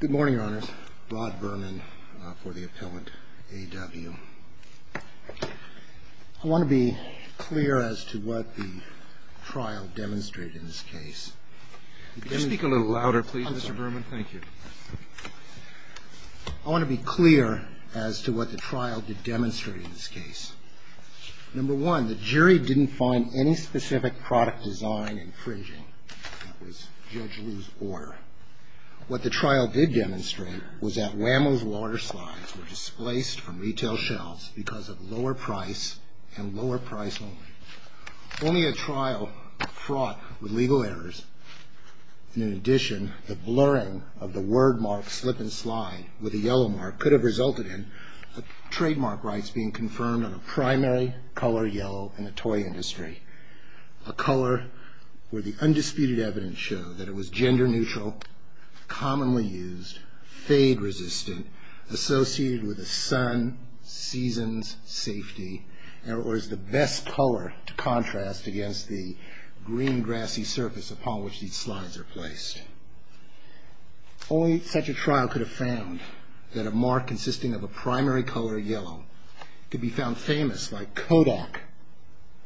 Good morning, Your Honors. Rod Berman for the Appellant AW. I want to be clear as to what the trial demonstrated in this case. Could you speak a little louder, please, Mr. Berman? Thank you. I want to be clear as to what the trial did demonstrate in this case. Number one, the jury didn't find any specific product design infringing. That was Judge Liu's order. What the trial did demonstrate was that Wham-O's water slides were displaced from retail shelves because of lower price and lower price only. Only a trial fraught with legal errors and, in addition, the blurring of the word mark slip and slide with a yellow mark could have resulted in trademark rights being confirmed on a primary color yellow in the toy industry, a color where the undisputed evidence showed that it was gender neutral, commonly used, fade resistant, associated with a sun, seasons, safety, or is the best color to contrast against the green grassy surface upon which these slides are placed. Only such a trial could have found that a mark consisting of a primary color yellow could be found famous like Kodak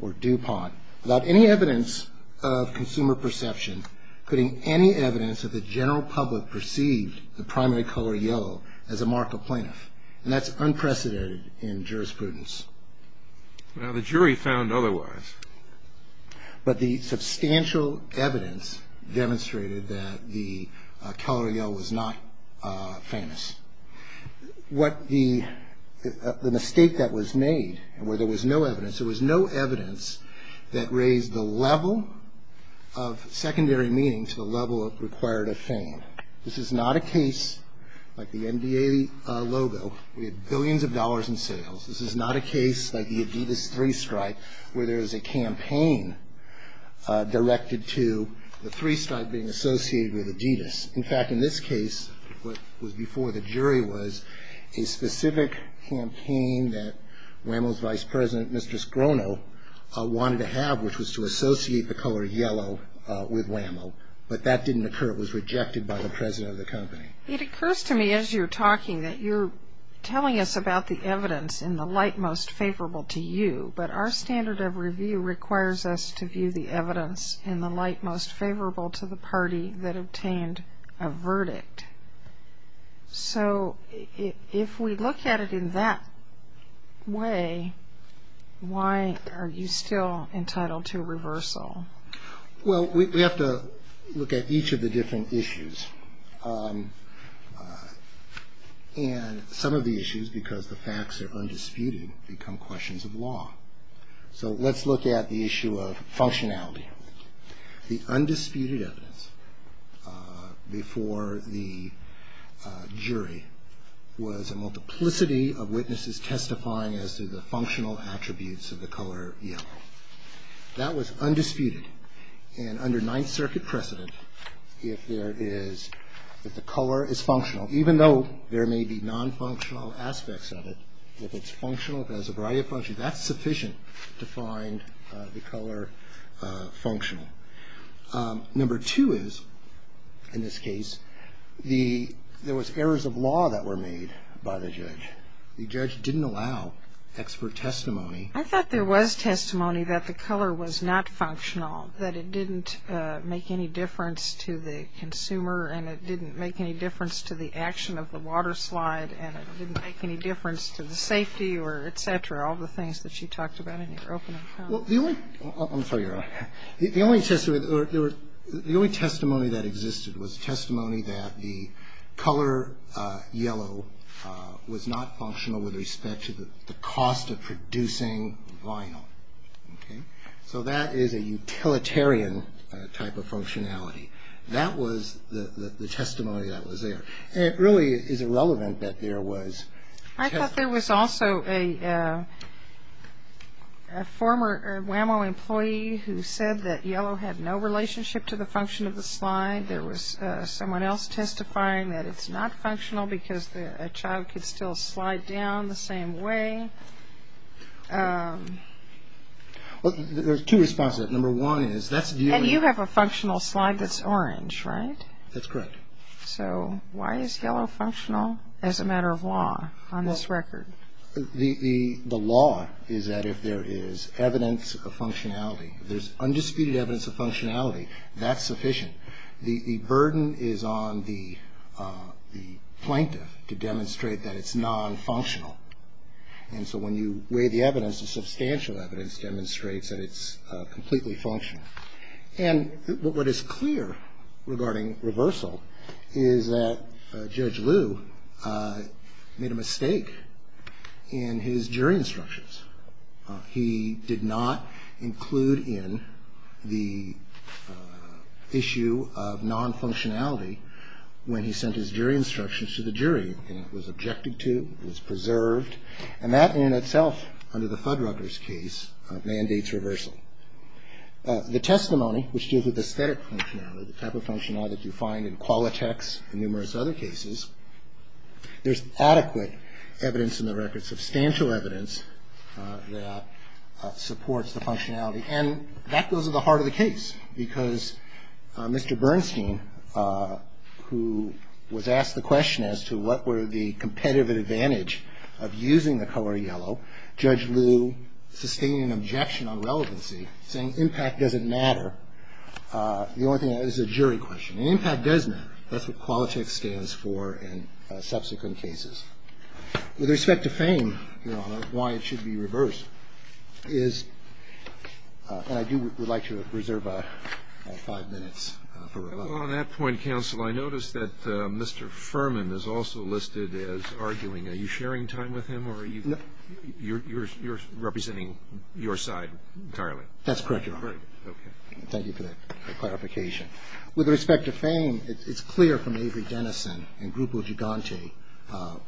or DuPont without any evidence of consumer perception putting any evidence that the general public perceived the primary color yellow as a mark of plaintiff. And that's unprecedented in jurisprudence. Well, the jury found otherwise. But the substantial evidence demonstrated that the color yellow was not famous. What the mistake that was made where there was no evidence, there was no evidence that raised the level of secondary meaning to the level of required of fame. This is not a case like the NBA logo with billions of dollars in sales. This is not a case like the Adidas three-stripe where there is a campaign directed to the three-stripe being associated with Adidas. In fact, in this case, what was before the jury was a specific campaign that Wham-O's vice president, Mr. Scrono, wanted to have which was to associate the color yellow with Wham-O. But that didn't occur. It occurs to me as you're talking that you're telling us about the evidence in the light most favorable to you, but our standard of review requires us to view the evidence in the light most favorable to the party that obtained a verdict. So if we look at it in that way, why are you still entitled to reversal? Well, we have to look at each of the different issues. And some of the issues, because the facts are undisputed, become questions of law. So let's look at the issue of functionality. The undisputed evidence before the jury was a multiplicity of witnesses testifying as to the functional attributes of the color yellow. That was undisputed. And under Ninth Circuit precedent, if there is, if the color is functional, even though there may be non-functional aspects of it, if it's functional, if it has a variety of functions, that's sufficient to find the color functional. Number two is, in this case, the, there was errors of law that were made by the judge. The judge didn't allow expert testimony. I thought there was testimony that the color was not functional, that it didn't make any difference to the consumer, and it didn't make any difference to the action of the water slide, and it didn't make any difference to the safety or et cetera, all the things that you talked about in your opening comment. Well, the only, I'm sorry, Your Honor. The only testimony that existed was testimony that the color yellow was not functional with respect to the cost of producing vinyl. Okay? So that is a utilitarian type of functionality. That was the testimony that was there. It really is irrelevant that there was testimony. I thought there was also a former WAMO employee who said that yellow had no relationship to the function of the slide. There was someone else testifying that it's not functional because a child could still slide down the same way. Well, there's two responses to that. Number one is that's view. And you have a functional slide that's orange, right? That's correct. So why is yellow functional as a matter of law on this record? The law is that if there is evidence of functionality, if there's undisputed evidence of functionality, that's sufficient. The burden is on the plaintiff to demonstrate that it's nonfunctional. And so when you weigh the evidence, the substantial evidence demonstrates that it's completely functional. And what is clear regarding reversal is that Judge Liu made a mistake in his jury instructions. He did not include in the issue of nonfunctionality when he sent his jury instructions to the jury. And it was objected to. It was preserved. And that in itself, under the Fuddruckers case, mandates reversal. The testimony, which deals with aesthetic functionality, the type of functionality that you find in Qualitex and numerous other cases, there's adequate evidence in the record, substantial evidence that supports the functionality. And that goes to the heart of the case, because Mr. Bernstein, who was asked the question as to what were the competitive advantage of using the color yellow, Judge Liu sustained an objection on relevancy, saying impact doesn't matter. The only thing that is a jury question. And impact does matter. That's what Qualitex stands for in subsequent cases. With respect to fame, Your Honor, why it should be reversed is, and I do would like to reserve five minutes for rebuttal. On that point, counsel, I notice that Mr. Furman is also listed as arguing. Are you sharing time with him, or are you representing your side entirely? That's correct, Your Honor. Okay. Thank you for that clarification. With respect to fame, it's clear from Avery Dennison and Grupo Gigante,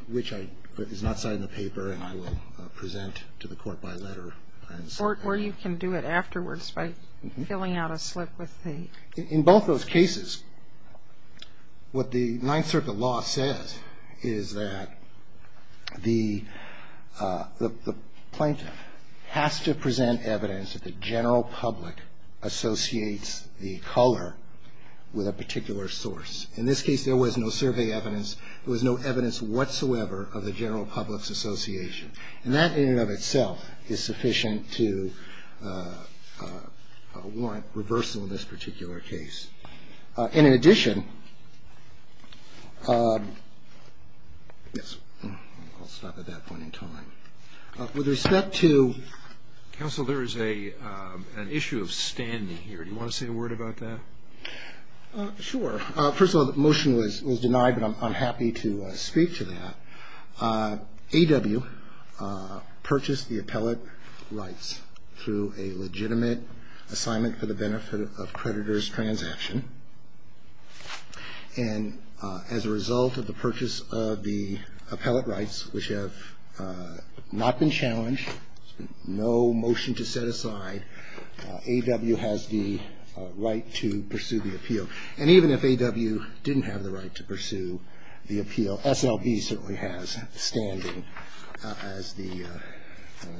which is not cited in the paper and I will present to the court by letter. Or you can do it afterwards by filling out a slip with the. In both those cases, what the Ninth Circuit law says is that the plaintiff has to present evidence that the general public associates the color with a particular source. In this case, there was no survey evidence. There was no evidence whatsoever of the general public's association. And that in and of itself is sufficient to warrant reversal in this particular case. And in addition, yes, I'll stop at that point in time. With respect to. Counsel, there is an issue of standing here. Do you want to say a word about that? Sure. First of all, the motion was denied, but I'm happy to speak to that. A.W. purchased the appellate rights through a legitimate assignment for the benefit of creditor's transaction. And as a result of the purchase of the appellate rights, which have not been challenged, no motion to set aside, A.W. has the right to pursue the appeal. And even if A.W. didn't have the right to pursue the appeal, S.L.B. certainly has standing as the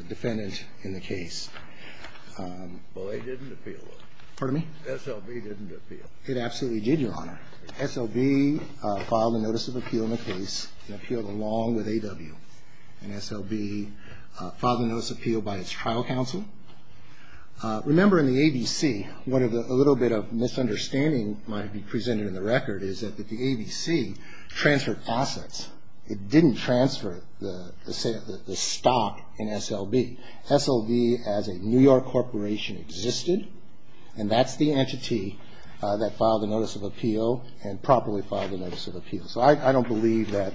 defendant in the case. Well, they didn't appeal it. Pardon me? S.L.B. didn't appeal. It absolutely did, Your Honor. S.L.B. filed a notice of appeal in the case and appealed along with A.W. And S.L.B. filed a notice of appeal by its trial counsel. Remember in the ABC, what a little bit of misunderstanding might be presented in the record is that the ABC transferred assets. It didn't transfer the stock in S.L.B. S.L.B. as a New York corporation existed, and that's the entity that filed a notice of appeal and properly filed a notice of appeal. So I don't believe that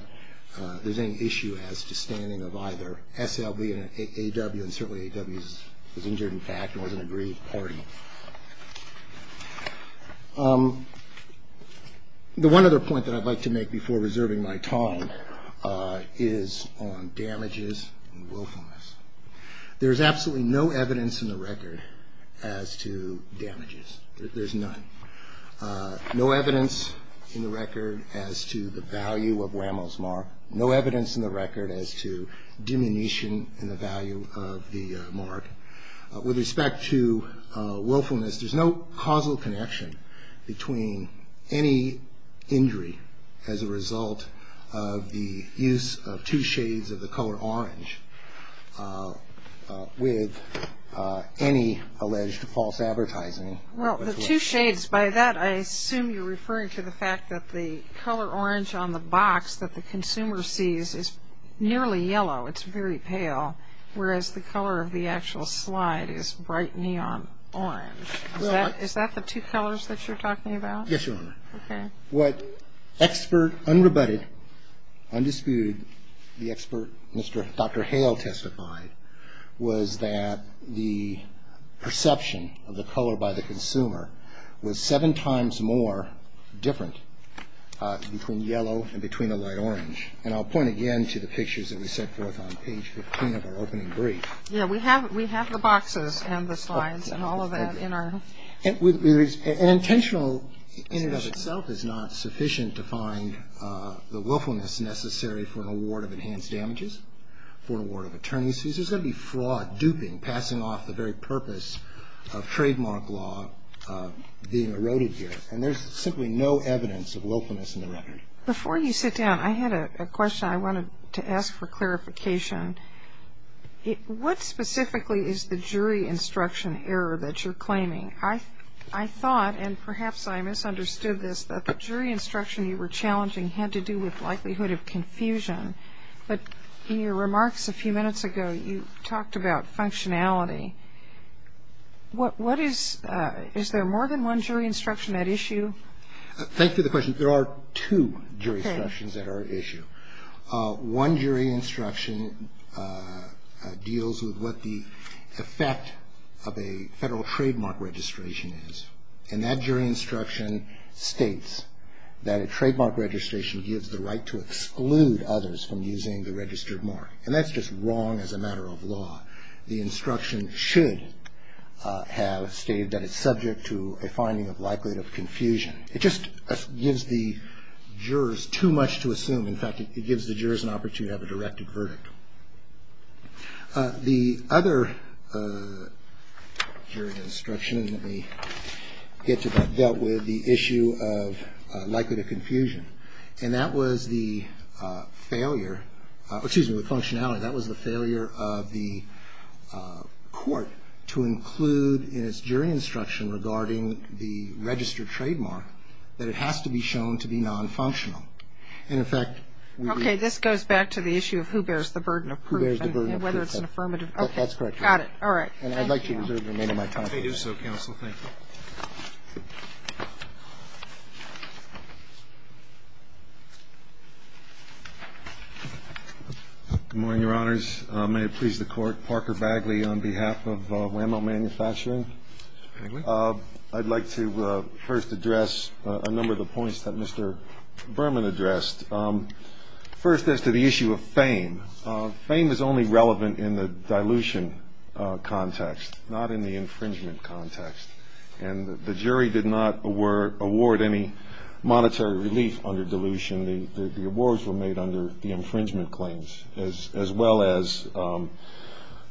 there's any issue as to standing of either S.L.B. and A.W., and certainly A.W. was injured in fact and was an aggrieved party. The one other point that I'd like to make before reserving my time is on damages and willfulness. There's absolutely no evidence in the record as to damages. There's none. No evidence in the record as to the value of Rameau's mark. No evidence in the record as to diminution in the value of the mark. With respect to willfulness, there's no causal connection between any injury as a result of the use of two shades of the color orange with any alleged false advertising. Well, the two shades, by that I assume you're referring to the fact that the color orange on the box that the consumer sees is nearly yellow. It's very pale, whereas the color of the actual slide is bright neon orange. Is that the two colors that you're talking about? Yes, Your Honor. Okay. What expert, unrebutted, undisputed, the expert, Dr. Hale testified, was that the perception of the color by the consumer was seven times more different between yellow and between a light orange. And I'll point again to the pictures that we sent forth on page 15 of our opening brief. Yeah, we have the boxes and the slides and all of that in our... An intentional in and of itself is not sufficient to find the willfulness necessary for an award of enhanced damages, for an award of attorney's fees. There's going to be fraud, duping, passing off the very purpose of trademark law being eroded here. And there's simply no evidence of willfulness in the record. Before you sit down, I had a question I wanted to ask for clarification. I thought, and perhaps I misunderstood this, that the jury instruction you were challenging had to do with likelihood of confusion. But in your remarks a few minutes ago, you talked about functionality. Is there more than one jury instruction at issue? Thank you for the question. There are two jury instructions that are at issue. One jury instruction deals with what the effect of a federal trademark registration is. And that jury instruction states that a trademark registration gives the right to exclude others from using the registered mark. And that's just wrong as a matter of law. The instruction should have stated that it's subject to a finding of likelihood of confusion. It just gives the jurors too much to assume. In fact, it gives the jurors an opportunity to have a directed verdict. The other jury instruction, let me get to that, dealt with the issue of likelihood of confusion. And that was the failure, excuse me, the functionality, that was the failure of the court to include in its jury instruction regarding the registered trademark that it has to be shown to be non-functional. And in fact, we do. Okay. This goes back to the issue of who bears the burden of proof and whether it's an affirmative. Okay. That's correct. Got it. All right. And I'd like you to reserve the remainder of my time. I do so, counsel. Thank you. Good morning, Your Honors. May it please the Court. Parker Bagley on behalf of WAMO Manufacturing. Mr. Bagley. I'd like to first address a number of the points that Mr. Berman addressed. First, as to the issue of fame, fame is only relevant in the dilution context, not in the infringement context. And the jury did not award any monetary relief under dilution. The awards were made under the infringement claims, as well as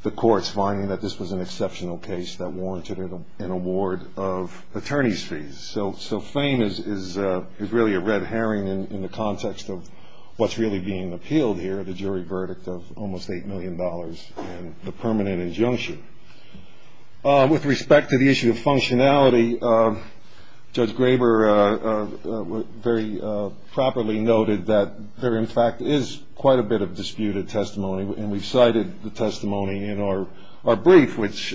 the courts finding that this was an exceptional case that warranted an award of attorney's fees. So fame is really a red herring in the context of what's really being appealed here, the jury verdict of almost $8 million and the permanent injunction. Judge Graber very properly noted that there, in fact, is quite a bit of disputed testimony, and we've cited the testimony in our brief, which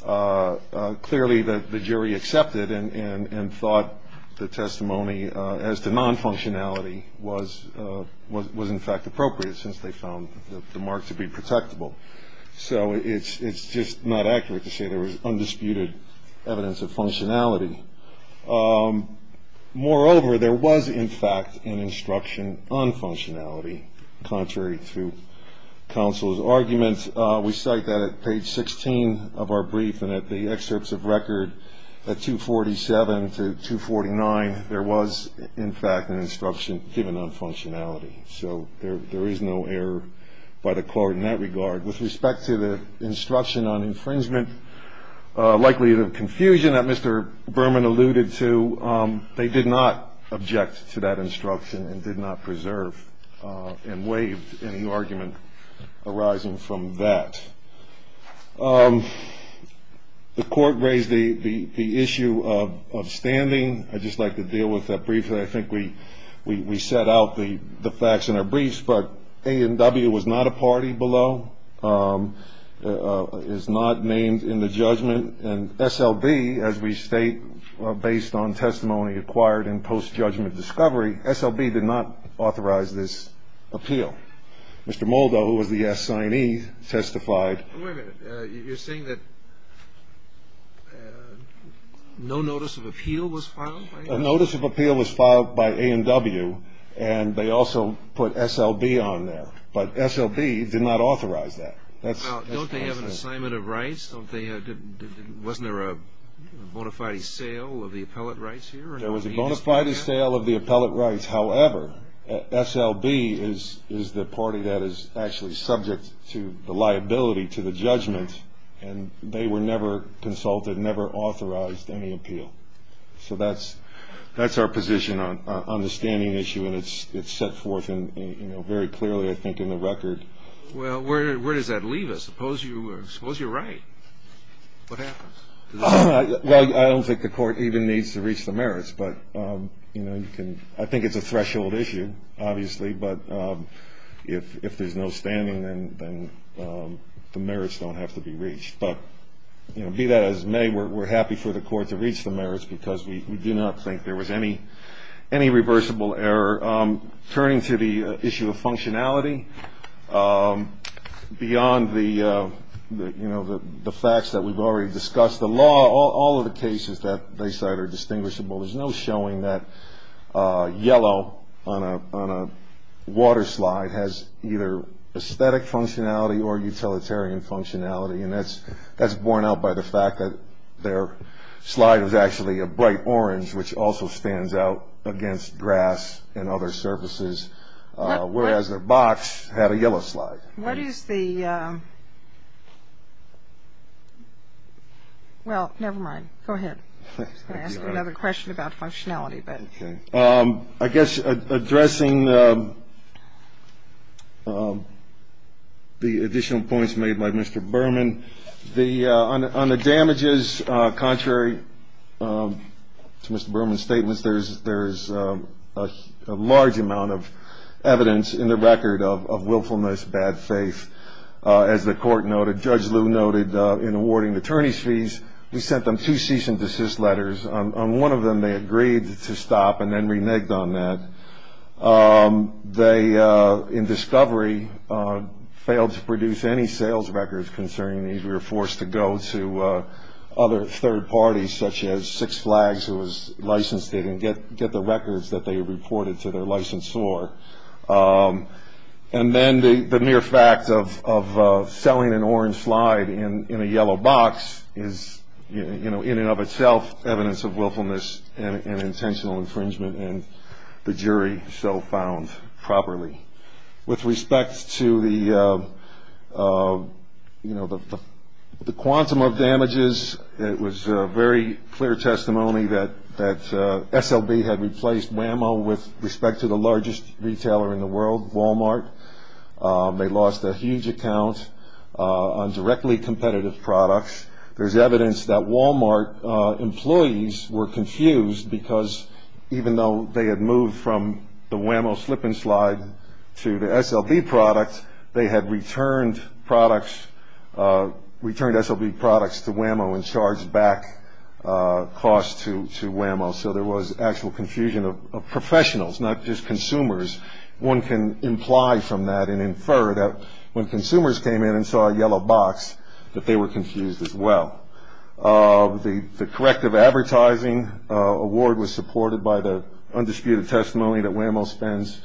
clearly the jury accepted and thought the testimony as to non-functionality was, in fact, appropriate, since they found the mark to be protectable. So it's just not accurate to say there was undisputed evidence of functionality. Moreover, there was, in fact, an instruction on functionality, contrary to counsel's arguments. We cite that at page 16 of our brief and at the excerpts of record at 247 to 249. There was, in fact, an instruction given on functionality. So there is no error by the court in that regard. With respect to the instruction on infringement, likely the confusion that Mr. Berman alluded to, they did not object to that instruction and did not preserve and waive any argument arising from that. The court raised the issue of standing. I'd just like to deal with that briefly. I think we set out the facts in our briefs, but A&W was not a party below, is not named in the judgment, and SLB, as we state, based on testimony acquired in post-judgment discovery, SLB did not authorize this appeal. Mr. Moldow, who was the assignee, testified. Wait a minute. You're saying that no notice of appeal was filed? A notice of appeal was filed by A&W, and they also put SLB on there, but SLB did not authorize that. Don't they have an assignment of rights? Wasn't there a bona fide sale of the appellate rights here? There was a bona fide sale of the appellate rights. However, SLB is the party that is actually subject to the liability to the judgment, and they were never consulted, never authorized any appeal. So that's our position on the standing issue, and it's set forth very clearly, I think, in the record. Well, where does that leave us? Suppose you're right. What happens? Well, I don't think the court even needs to reach the merits, but I think it's a threshold issue, obviously, but if there's no standing, then the merits don't have to be reached. But, you know, be that as it may, we're happy for the court to reach the merits because we do not think there was any reversible error. Turning to the issue of functionality, beyond the facts that we've already discussed, the law, all of the cases that they cite are distinguishable. There's no showing that yellow on a water slide has either aesthetic functionality or utilitarian functionality, and that's borne out by the fact that their slide is actually a bright orange, which also stands out against grass and other surfaces, whereas their box had a yellow slide. What is the ‑‑ well, never mind. Go ahead. I'm going to ask another question about functionality. I guess addressing the additional points made by Mr. Berman, on the damages contrary to Mr. Berman's statements, there's a large amount of evidence in the record of willfulness, bad faith. As the court noted, Judge Liu noted in awarding the attorneys' fees, we sent them two cease and desist letters. On one of them, they agreed to stop and then reneged on that. They, in discovery, failed to produce any sales records concerning these. We were forced to go to other third parties, such as Six Flags, who was licensed, and get the records that they reported to their licensor. And then the mere fact of selling an orange slide in a yellow box is, in and of itself, evidence of willfulness and intentional infringement, and the jury so found properly. With respect to the quantum of damages, it was very clear testimony that SLB had replaced WAMO with respect to the largest retailer in the world, Walmart. They lost a huge account on directly competitive products. There's evidence that Walmart employees were confused, because even though they had moved from the WAMO slip-and-slide to the SLB product, they had returned SLB products to WAMO and charged back costs to WAMO. So there was actual confusion of professionals, not just consumers. One can imply from that and infer that when consumers came in and saw a yellow box, that they were confused as well. The corrective advertising award was supported by the undisputed testimony that WAMO spends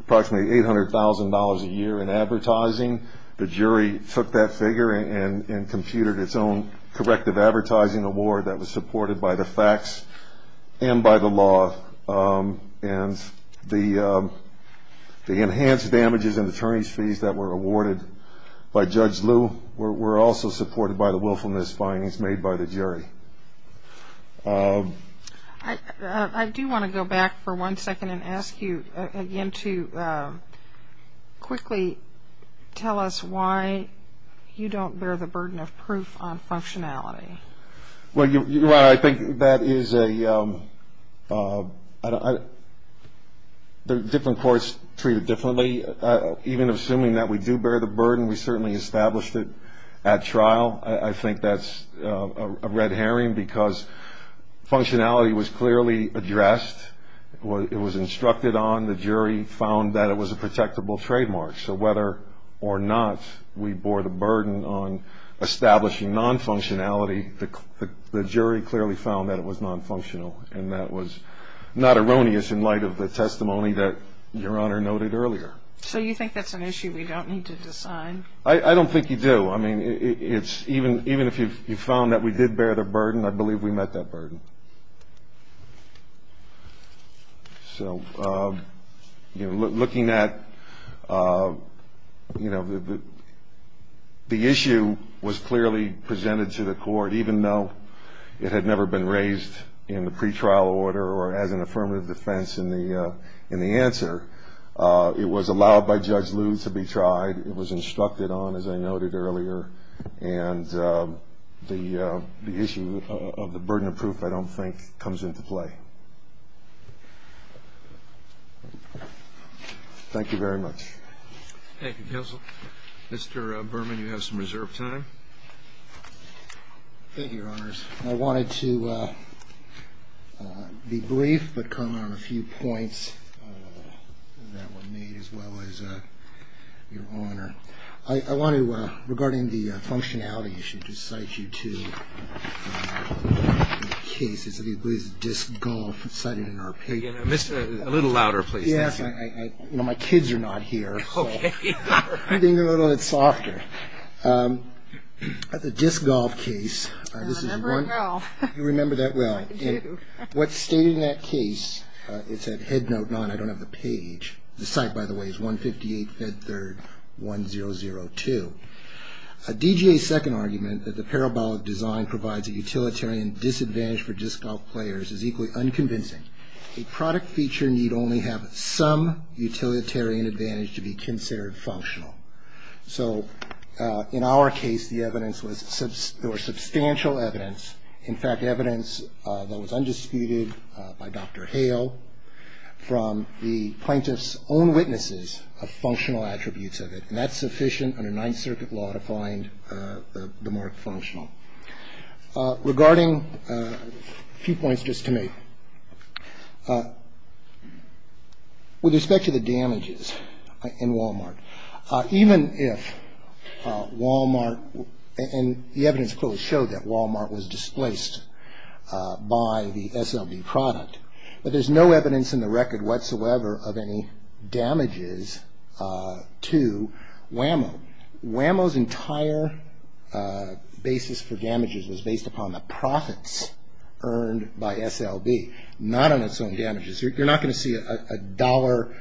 approximately $800,000 a year in advertising. The jury took that figure and computed its own corrective advertising award that was supported by the facts and by the law. And the enhanced damages and attorneys' fees that were awarded by Judge Liu were also supported by the willfulness findings made by the jury. I do want to go back for one second and ask you again to quickly tell us why you don't bear the burden of proof on functionality. Well, Your Honor, I think that is a – different courts treat it differently. Even assuming that we do bear the burden, we certainly established it at trial. I think that's a red herring because functionality was clearly addressed. It was instructed on. The jury found that it was a protectable trademark. So whether or not we bore the burden on establishing non-functionality, the jury clearly found that it was non-functional, and that was not erroneous in light of the testimony that Your Honor noted earlier. So you think that's an issue we don't need to decide? I don't think you do. I mean, even if you found that we did bear the burden, I believe we met that burden. So looking at – the issue was clearly presented to the court, even though it had never been raised in the pretrial order or as an affirmative defense in the answer. It was allowed by Judge Liu to be tried. It was instructed on, as I noted earlier. And the issue of the burden of proof, I don't think, comes into play. Thank you very much. Thank you, counsel. Mr. Berman, you have some reserved time. Thank you, Your Honors. I wanted to be brief but comment on a few points that were made, as well as Your Honor. I want to, regarding the functionality issue, just cite you two cases. I believe it's disc golf cited in our paper. A little louder, please. Yes. My kids are not here, so I'm being a little bit softer. The disc golf case, this is one. I remember it well. You remember that well. I do. What's stated in that case, it said, I don't have the page. The site, by the way, is 158 Fed Third 1002. DGA's second argument, that the parabolic design provides a utilitarian disadvantage for disc golf players, is equally unconvincing. A product feature need only have some utilitarian advantage to be considered functional. So in our case, the evidence was substantial evidence. In fact, evidence that was undisputed by Dr. Hale from the plaintiff's own witnesses of functional attributes of it. And that's sufficient under Ninth Circuit law to find the mark functional. Regarding a few points just to make, with respect to the damages in Walmart, even if Walmart, and the evidence clearly showed that Walmart was displaced by the SLB product. But there's no evidence in the record whatsoever of any damages to Wham-O. Wham-O's entire basis for damages was based upon the profits earned by SLB, not on its own damages. You're not going to see a dollar,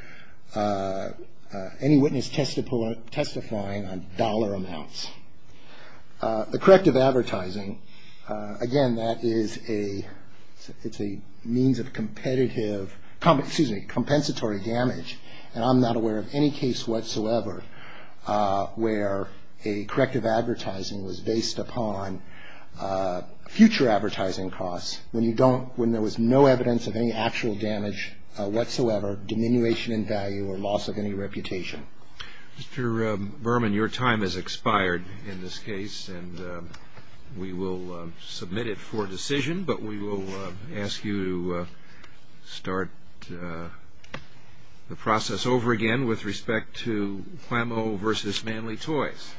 any witness testifying on dollar amounts. The corrective advertising, again, that is a means of competitive, excuse me, compensatory damage. And I'm not aware of any case whatsoever where a corrective advertising was based upon future advertising costs when there was no evidence of any actual damage whatsoever, diminution in value, or loss of any reputation. Mr. Berman, your time has expired in this case, and we will submit it for decision. But we will ask you to start the process over again with respect to Wham-O versus manly toys.